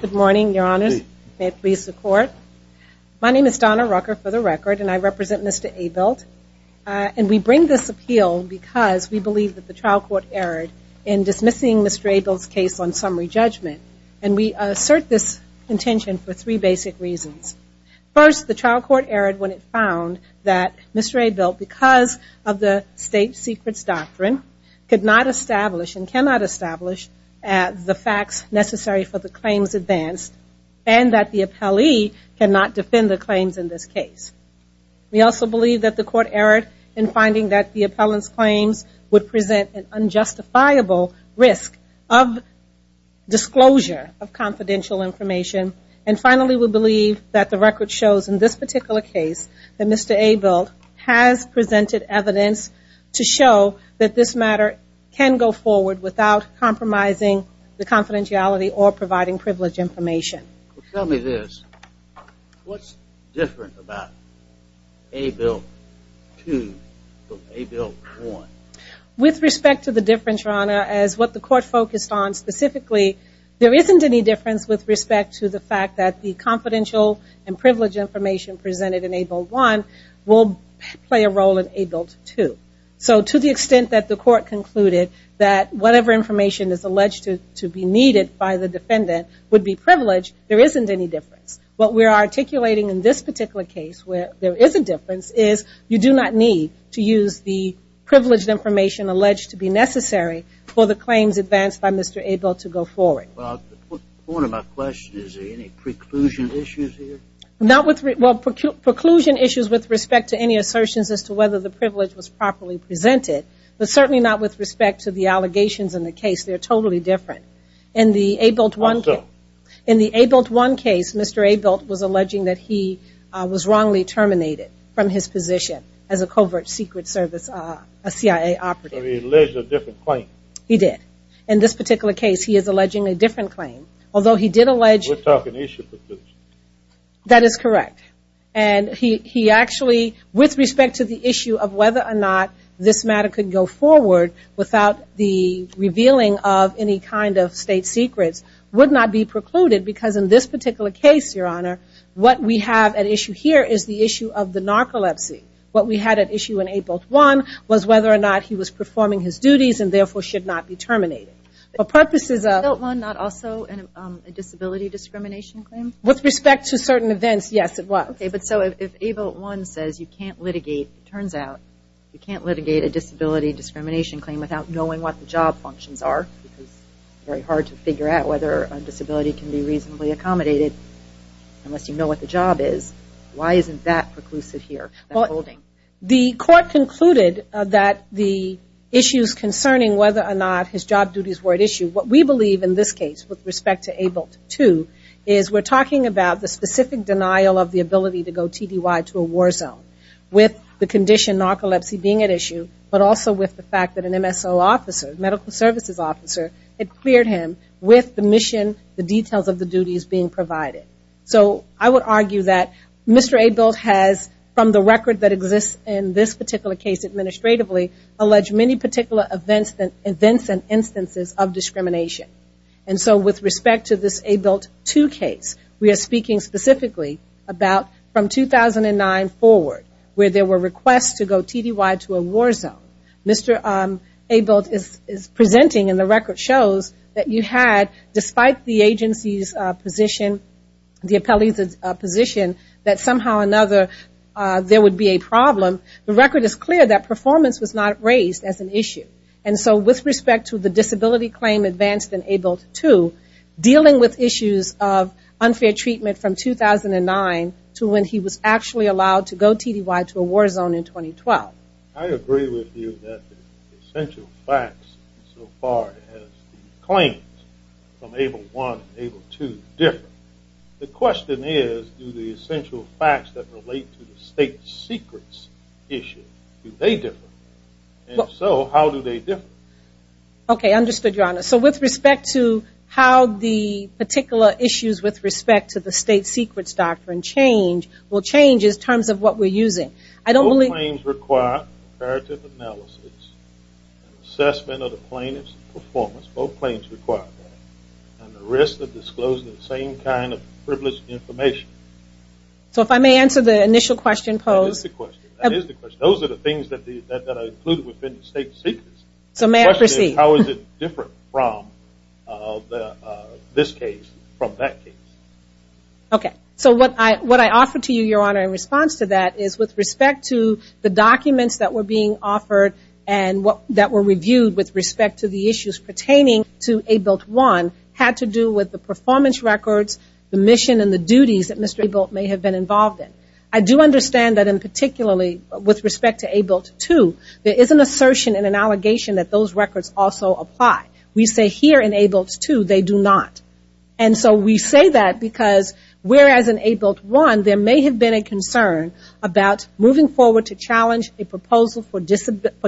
Good morning, Your Honor. May it please the Court. My name is Donna Rucker, for the record, and I represent Mr. Abilt. And we bring this appeal because we believe that the trial court erred in dismissing Mr. Abilt's case on summary judgment. And we assert this intention for three basic reasons. First, the trial court erred when it found that Mr. Abilt, because of the state secrets doctrine, could not establish and cannot establish the facts necessary for the claims advanced, and that the appellee cannot defend the claims in this case. We also believe that the court erred in finding that the appellant's claims would present an unjustifiable risk of disclosure of confidential information. And finally, we believe that the record shows in this case to show that this matter can go forward without compromising the confidentiality or providing privilege information. Tell me this. What's different about Abilt II from Abilt I? With respect to the difference, Your Honor, as what the court focused on specifically, there isn't any difference with respect to the fact that the confidential and privilege information presented in Abilt I will play a role in Abilt II. So to the extent that the court concluded that whatever information is alleged to be needed by the defendant would be privileged, there isn't any difference. What we are articulating in this particular case where there is a difference is you do not need to use the privileged information alleged to be necessary for the claims advanced by Mr. Abilt to go forward. Proclusion issues with respect to any assertions as to whether the privilege was properly presented, but certainly not with respect to the allegations in the case. They are totally different. In the Abilt I case, Mr. Abilt was alleging that he was wrongly terminated from his position as a covert secret CIA operative. He did. In this particular case, he is alleging a different claim. That is correct. And he actually, with respect to the issue of whether or not this matter could go forward without the revealing of any kind of state secrets would not be precluded because in this particular case, Your Honor, what we have at issue here is the issue of narcolepsy. What we had at issue in Abilt I was whether or not he was performing his duties and therefore should not be terminated. Was Abilt I not also a disability discrimination claim? With respect to certain events, yes, it was. If Abilt I says you can't litigate, it turns out, you can't litigate a disability discrimination claim without knowing what the job functions are. It is very hard to figure out whether a disability can be reasonably accommodated unless you know what the job is. Why isn't that preclusive here? The court concluded that the issues concerning whether or not his job duties were at issue, what we believe in this case with respect to Abilt II is we're talking about the specific denial of the ability to go TDY to a war zone with the condition narcolepsy being at issue but also with the fact that an MSO officer, medical services officer, had cleared him with the details of the duties being provided. So I would argue that Mr. Abilt has from the record that exists in this particular case administratively alleged many particular events and instances of discrimination. And so with respect to this Abilt II case, we are speaking specifically about from 2009 forward where there were requests to go TDY to a war zone. Mr. Abilt is presenting and the agency's position, the appellee's position that somehow or another there would be a problem, the record is clear that performance was not raised as an issue. And so with respect to the disability claim advanced in Abilt II, dealing with issues of unfair treatment from 2009 to when he was actually allowed to go TDY to a war zone in 2012. I agree with you that the essential facts so far as the claims from Abilt I and Abilt II differ. The question is do the essential facts that relate to the state secrets issue, do they differ? And if so, how do they differ? Okay, understood, Your Honor. So with respect to how the particular issues with respect to the state secrets doctrine change, will change in terms of what we're using? Both claims require comparative analysis and assessment of the plaintiff's performance. Both claims require that. And the risk of disclosing the same kind of privileged information. So if I may answer the initial question posed. That is the question. Those are the things that are included within the state secrets. The question is how is it different from this case, from that case? Okay. So what I offer to you, Your Honor, in response to that is with respect to the documents that were being offered and that were reviewed with respect to the issues pertaining to Abilt I had to do with the performance records, the mission and the duties that Mr. Abilt may have been involved in. I do understand that in particularly with respect to Abilt II, there is an assertion and an allegation that those records also apply. We say here in Abilt II they do not. And so we say that because whereas in Abilt I there may have been a concern about moving forward to challenge a proposal for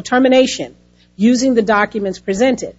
termination using the documents presented.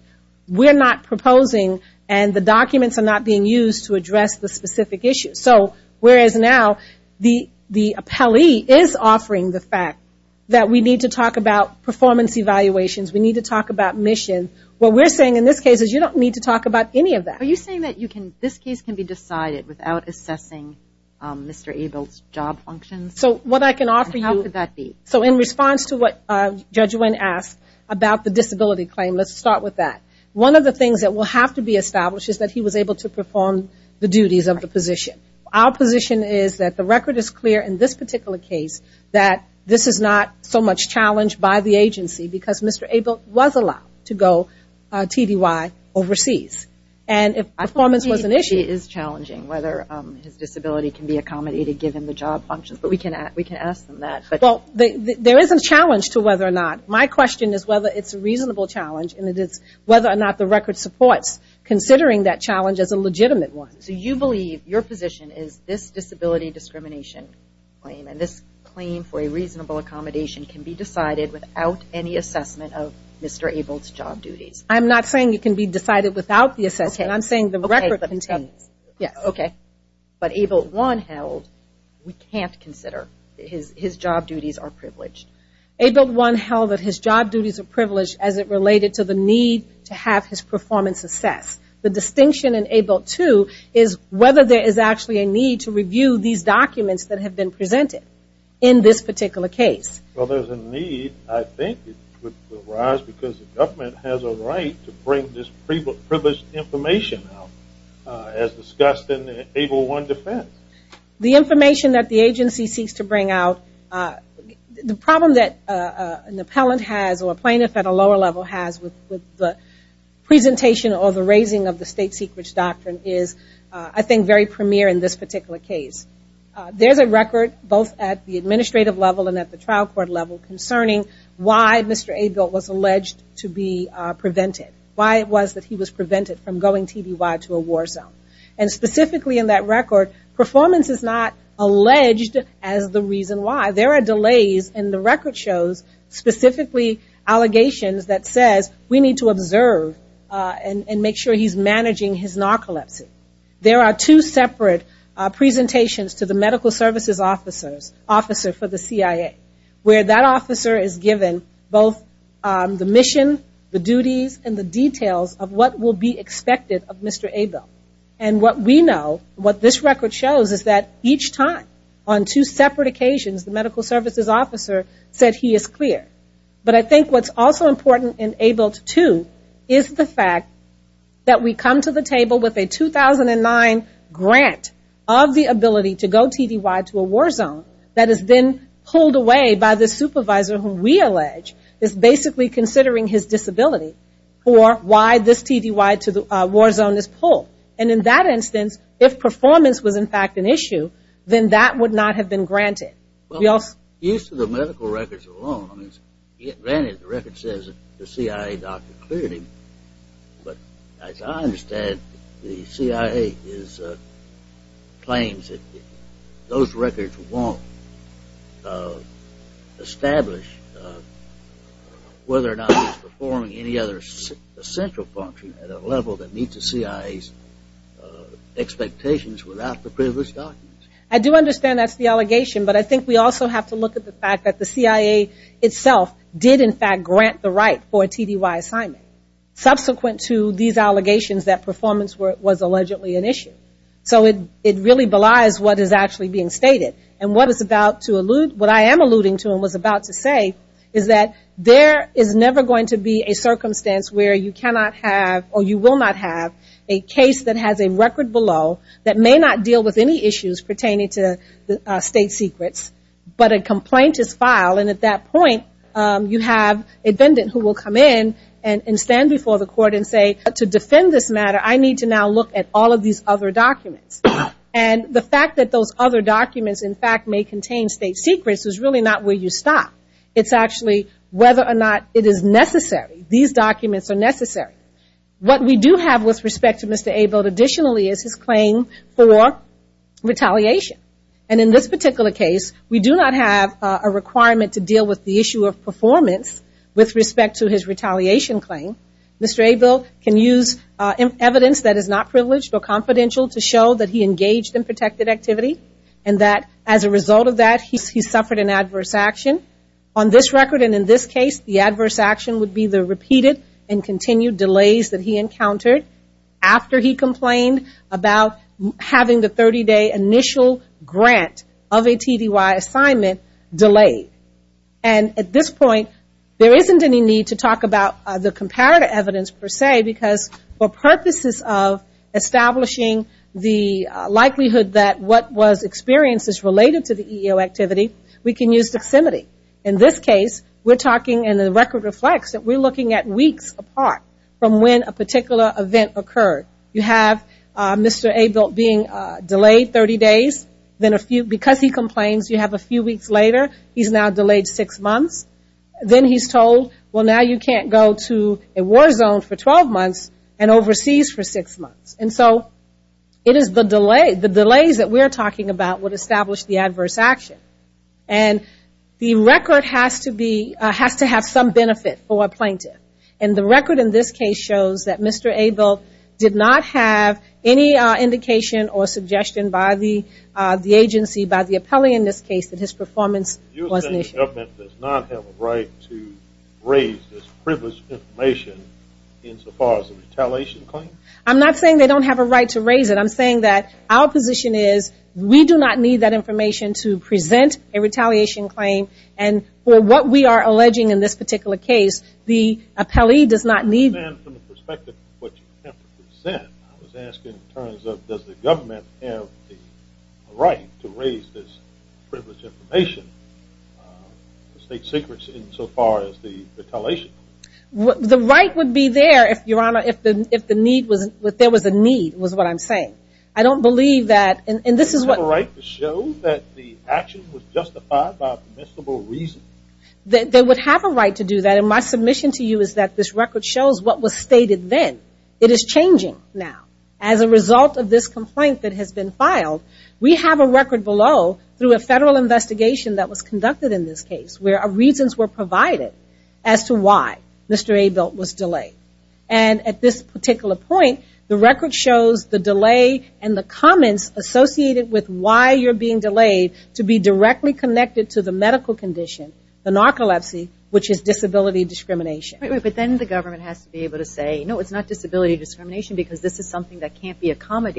We're not proposing and the documents are not being used to address the specific issues. So whereas now the appellee is offering the fact that we need to talk about performance evaluations, we need to talk about mission, what we're saying in this case is you don't need to talk about any of that. Are you saying that this case can be decided without assessing Mr. Abilt's job functions? And how could that be? So in response to what Judge Nguyen asked about the disability claim, let's start with that. One of the things that will have to be established is that he was able to perform the duties of the position. Our position is that the record is clear in this particular case that this is not so much challenged by the agency because Mr. Abilt was allowed to go TDY overseas. And if performance was an issue. It is challenging whether his disability can be accommodated given the job functions, but we can ask them that. There is a challenge to whether or not. My question is whether it's a reasonable challenge and it is whether or not the record supports considering that challenge as a legitimate one. So you believe your position is this disability discrimination claim and this claim for a reasonable accommodation can be decided without any assessment of Mr. Abilt's job duties? I'm not saying it can be decided without the assessment. I'm saying the record that it contains. But Abilt 1 held we can't consider his job duties are privileged. Abilt 1 held that his job duties are privileged. The distinction in Abilt 2 is whether there is actually a need to review these documents that have been presented in this particular case. There is a need, I think, because the government has a right to bring this privileged information out as discussed in Abilt 1 defense. The information that the agency seeks to bring out, the problem that an appellant has or a plaintiff at a lower level has with the presentation or the raising of the state secrets doctrine is, I think, very premier in this particular case. There is a record both at the administrative level and at the trial court level concerning why Mr. Abilt was alleged to be prevented. Why it was that he was prevented from going TBY to a war zone. And specifically in that record, performance is not alleged as the reason why. There are delays and the record shows specifically allegations that says we need to observe and make sure he's managing his narcolepsy. There are two separate presentations to the medical services officers, officer for the CIA, where that officer is given both the mission, the duties, and the details of what will be expected of Mr. Abilt. And what we know, what this record shows is that each time on two separate occasions the medical services officer said he is going to go TBY to a war zone. I think what is also important in Abilt 2 is the fact that we come to the table with a 2009 grant of the ability to go TBY to a war zone that has been pulled away by the supervisor who we allege is basically considering his disability for why this TBY to the war zone is pulled. And in that instance, if performance was in fact an issue, then that would not have been granted. Use of the medical records alone, granted the record says the CIA doctor cleared him, but as I understand the CIA claims that those records won't establish whether or not he's performing any other essential function at a level that meets the CIA's expectations without the previous documents. I do understand that's the allegation, but I think we also have to look at the fact that the CIA itself did in fact grant the right for a TDY assignment subsequent to these allegations that performance was allegedly an issue. So it really belies what is actually being stated. And what is about to allude, what I am alluding to and was about to say is that there is never going to be a circumstance where you cannot have or you will not have a case that has a record below that may not deal with any issues pertaining to state secrets, but a complaint is filed. And at that point, you have a defendant who will come in and stand before the court and say, to defend this matter, I need to now look at all of these other documents. And the fact that those other documents in fact may contain state secrets is really not where you stop. It's actually whether or not it is necessary. These documents are necessary. What we do have with respect to Mr. Abel additionally is his claim for retaliation. And in this particular case, we do not have a requirement to deal with the issue of performance with respect to his retaliation claim. Mr. Abel can use evidence that is not privileged or confidential to show that he engaged in adverse action. On this record and in this case, the adverse action would be the repeated and continued delays that he encountered after he complained about having the 30-day initial grant of a TDY assignment delayed. And at this point, there isn't any need to talk about the comparative evidence per se, because for purposes of establishing the likelihood that what was experienced is related to the EEO activity, we can use proximity. In this case, we're talking and the record reflects that we're looking at weeks apart from when a particular event occurred. You have Mr. Abel being delayed 30 days. Because he complains, you have a few weeks later, he's now delayed six months. Then he's told, well, now you can't go to a war zone for 12 months and overseas for six months. And so it is the delays that we're talking about that would establish the adverse action. And the record has to have some benefit for a plaintiff. And the record in this case shows that Mr. Abel did not have any indication or suggestion by the agency, by the appellee in this case, that his performance was an issue. You're saying the government does not have a right to raise this privileged information insofar as a retaliation claim? I'm not saying they don't have a right to raise it. I'm saying that our position is we do not need that information to present a retaliation claim. And for what we are alleging in this particular case, the appellee does not need it. From the perspective of what you have to present, I was asking in terms of does the government have the right to raise this privileged information, state secrets, insofar as the retaliation? The right would be there, Your Honor, if there was a need was what I'm saying. I don't believe that, and this is what... Do they have a right to show that the action was justified by permissible reason? They would have a right to do that. And my submission to you is that this record shows what was stated then. It is changing now. As a result of this complaint that has been filed, we have a record below through a federal investigation that was conducted in this particular case, and it shows why Mr. Abel was delayed. And at this particular point, the record shows the delay and the comments associated with why you're being delayed to be directly connected to the medical condition, the narcolepsy, which is disability discrimination. But then the government has to be able to say, no, it's not disability discrimination because this is something that can't be justified.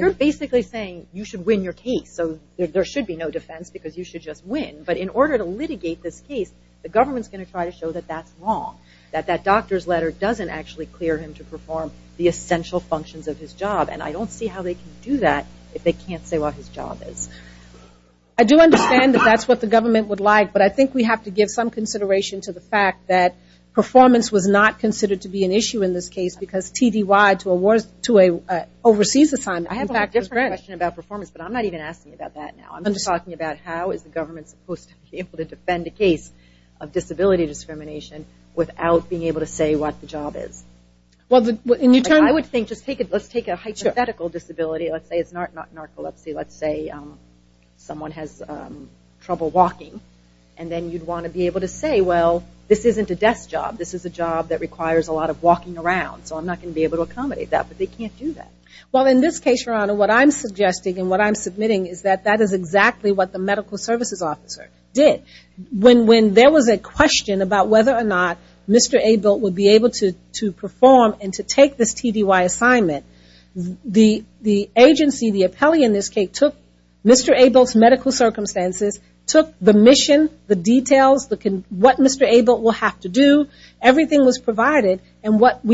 You're basically saying you should win your case, so there should be no defense because you should just win. But in order to litigate this case, the government's going to try to show that that's wrong, that that doctor's letter doesn't actually clear him to perform the essential functions of his job. And I don't see how they can do that if they can't say what his job is. I do understand that that's what the government would like, but I think we have to give some consideration to the fact that performance was not considered to be an issue in this case because TDY to an overseas assignment, I have a different question about performance, but I'm not even asking about that now. I'm just talking about how is the government supposed to be able to defend a case of disability discrimination without being able to say what the job is. I would think, let's take a hypothetical disability, let's say it's not narcolepsy, let's say someone has trouble walking, and then you'd want to be able to say, well, this isn't a desk job, this is a job that requires a lot of walking around, so I'm not going to be able to accommodate that, but they can't do that. Well, in this case, Your Honor, what I'm suggesting and what I'm submitting is that that is exactly what the medical services officer did. When there was a question about whether or not Mr. Abel would be able to perform and to take this TDY assignment, the agency, the appellee in this case, took Mr. Abel's medical circumstances, took the mission, the details, what Mr. Abel will have to do, everything was provided, and what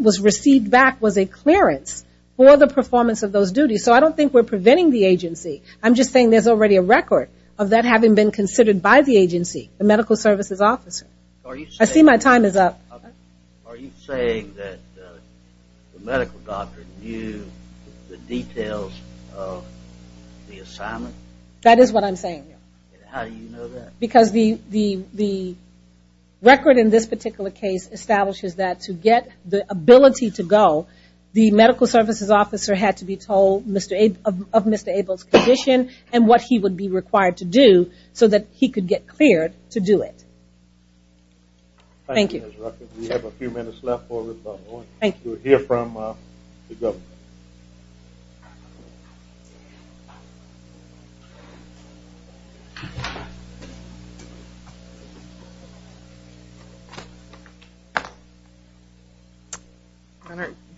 was received back was a clearance for the performance of those duties, so I don't think we're preventing the agency. I'm just saying there's already a record of that having been considered by the agency, the medical services officer. I see my time is up. Are you saying that the medical doctor knew the details of the assignment? That is what I'm saying. How do you know that? Because the record in this particular case establishes that to get the ability to go, the medical services officer had to be told of Mr. Abel's condition and what he would be required to do so that he could get cleared to do it. Thank you.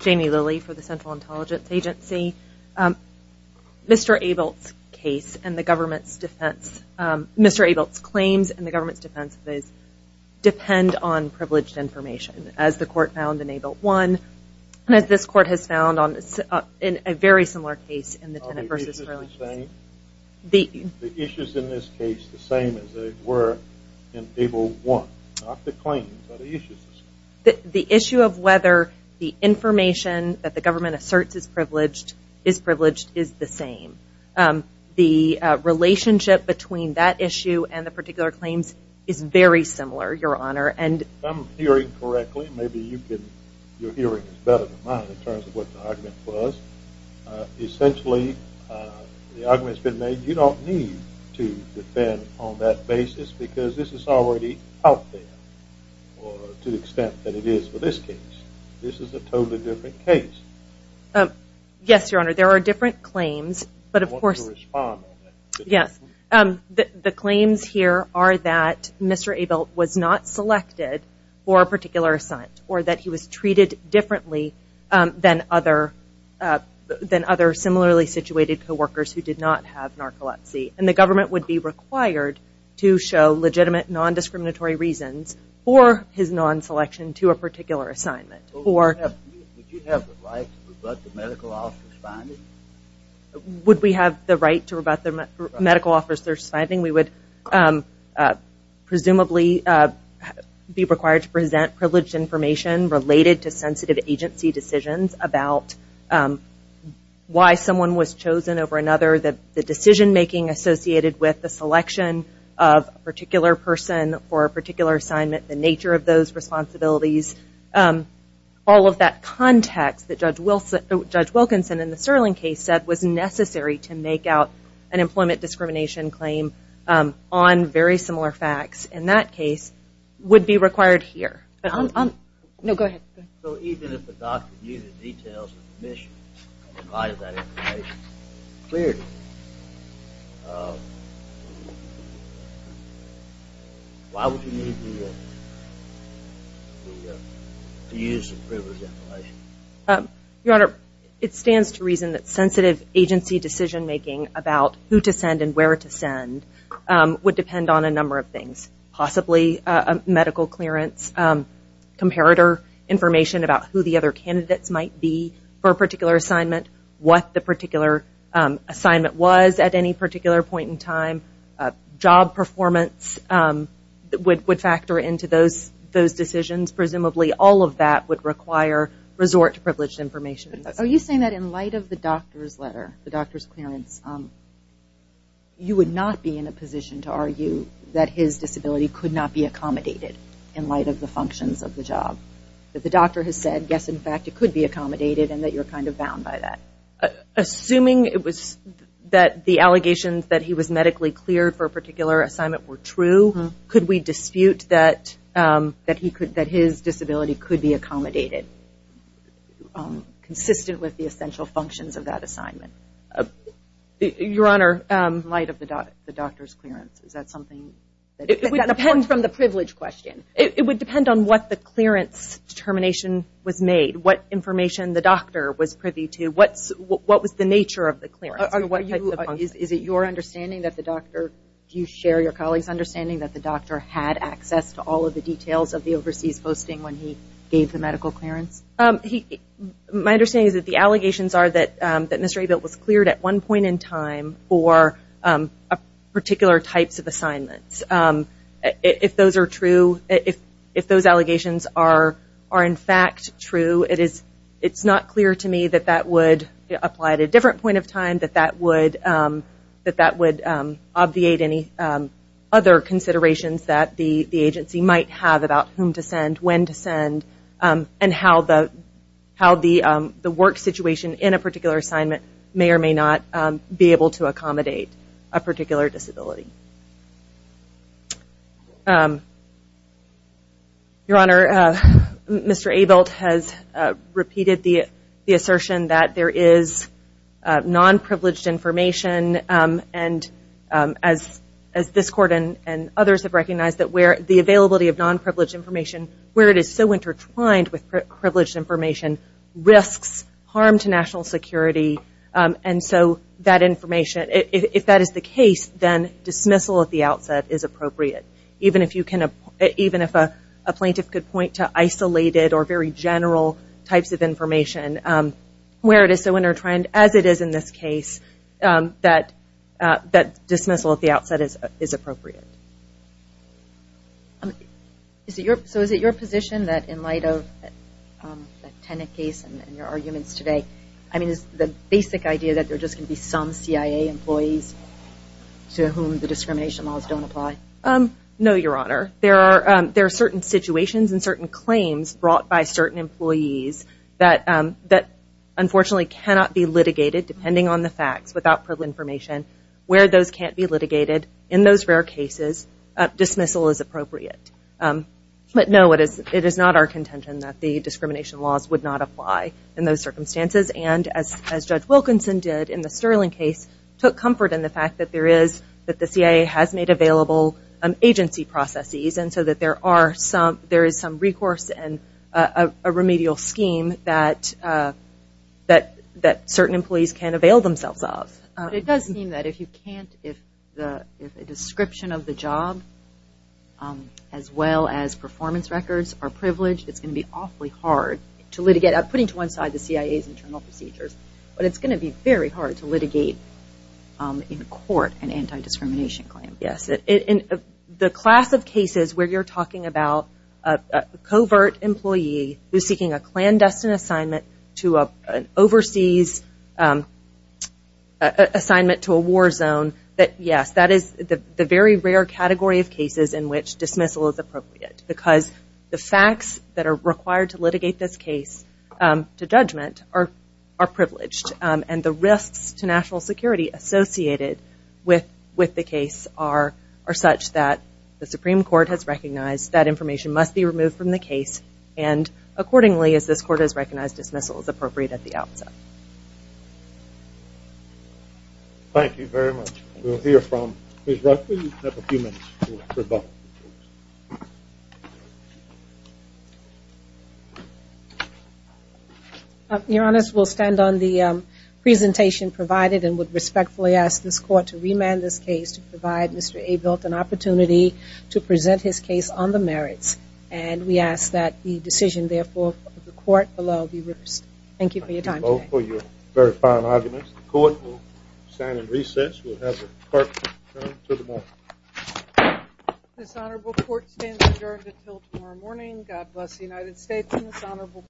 Jamie Lilly for the Central Intelligence Agency. Mr. Abel's case and the government's defense, Mr. Abel's claims and the government's defense depend on privileged information, as the court found in Abel 1, and as this court has found in a very similar case in the Tenet v. Religious. The issue of whether the information that the government asserts is privileged is the same. The relationship between that issue and the particular claims is very similar, Your Honor. Yes, Your Honor. There are different claims. The claims here are that Mr. Abel was not selected for a particular assignment or that he was treated differently than other similarly situated co-workers who did not have narcolepsy. And the government would be required to show legitimate non-discriminatory reasons for his non-selection to a particular assignment. Would you have the right to rebut the medical officer's finding? We would presumably be required to present privileged information related to sensitive agency decisions about why someone was chosen over another, the decision-making associated with the selection of a particular person for a particular assignment, the nature of those responsibilities, all of that context that Judge Wilkinson and the Sterling Court found to be very similar. And the fact that a certain case said it was necessary to make out an employment discrimination claim on very similar facts in that case would be required here. So even if the doctor knew the details of the mission and provided that information clearly, why would you need to use the privileged information? Your Honor, it stands to reason that sensitive agency decision-making about who to send and where to send would depend on a number of things. Possibly a medical clearance, comparator information about who the other candidates might be for a particular assignment, what the particular assignment was at any particular point in time, job performance would factor into those decisions. Presumably all of that would require resort to privileged information. Are you saying that in light of the doctor's letter, the doctor's clearance, you would not be in a position to argue that his disability could not be accommodated in light of the functions of the job, that the doctor has said, yes, in fact, it could be accommodated and that you're kind of bound by that? Assuming it was that the allegations that he was medically cleared for a particular assignment were true, could we dispute that his disability could be accommodated consistent with the essential functions of that assignment? Your Honor, in light of the doctor's clearance, is that something? It would depend on what the clearance determination was made, what information the doctor was privy to, what was the nature of the clearance? Is it your understanding that the doctor, do you share your colleague's understanding that the doctor had access to all of the details of the overseas posting when he gave the medical clearance? My understanding is that the allegations are that Mr. Abel was cleared at one point in time for particular types of assignments. If those are true, if those allegations are in fact true, it's not clear to me that that would apply at a different point of time, that that would obviate any other considerations that the agency might have about whom to send, when to send, and how the work situation in a particular assignment may or may not be able to accommodate a particular disability. Your Honor, Mr. Abel has repeated the assertion that there is non-presentation of a particular disability. Non-privileged information, as this Court and others have recognized, the availability of non-privileged information, where it is so intertwined with privileged information, risks harm to national security, and so that information, if that is the case, then dismissal at the outset is appropriate, even if a plaintiff could point to isolated or very general types of information where it is so intertwined, as it is in this case, that dismissal at the outset is appropriate. So is it your position that in light of the Tenet case and your arguments today, I mean is the basic idea that there are just going to be some CIA employees to whom the discrimination laws don't apply? No, Your Honor. There are certain situations and certain claims brought by certain employees that unfortunately cannot be litigated, depending on the facts, without privileged information, where those can't be litigated in those rare cases, dismissal is appropriate. But no, it is not our contention that the discrimination laws would not apply in those circumstances, and as Judge Wilkinson did in the Sterling case, took comfort in the fact that there is, that the CIA has made available agency processes, and so that there are some, there is some recourse and a remedial scheme that, that, that, that, that can be used to eliminate some of those claims that certain employees can't avail themselves of. It does seem that if you can't, if the description of the job, as well as performance records are privileged, it's going to be awfully hard to litigate, putting to one side the CIA's internal procedures, but it's going to be very hard to litigate in court an anti-discrimination claim. Yes, in the class of cases where you're talking about a covert employee who's seeking a clandestine assignment to an overseas assignment to a war zone, that yes, that is the very rare category of cases in which dismissal is appropriate, because the facts that are required to litigate this case to judgment are privileged, and the risks to national security associated with the case are such that the Supreme Court has recognized that information must be removed from the case, and accordingly, as this Court has recognized dismissal is appropriate at the outset. Thank you very much. We'll hear from Ms. Ruffley. You have a few minutes. Your Honors, we'll stand on the presentation provided and would respectfully ask this Court to remand this case to provide Mr. Abel an opportunity to present his case on the merits, and we ask that the decision, therefore, of the Court below be reversed. Thank you for your time today. This Honorable Court stands adjourned until tomorrow morning. God bless the United States and this Honorable Court.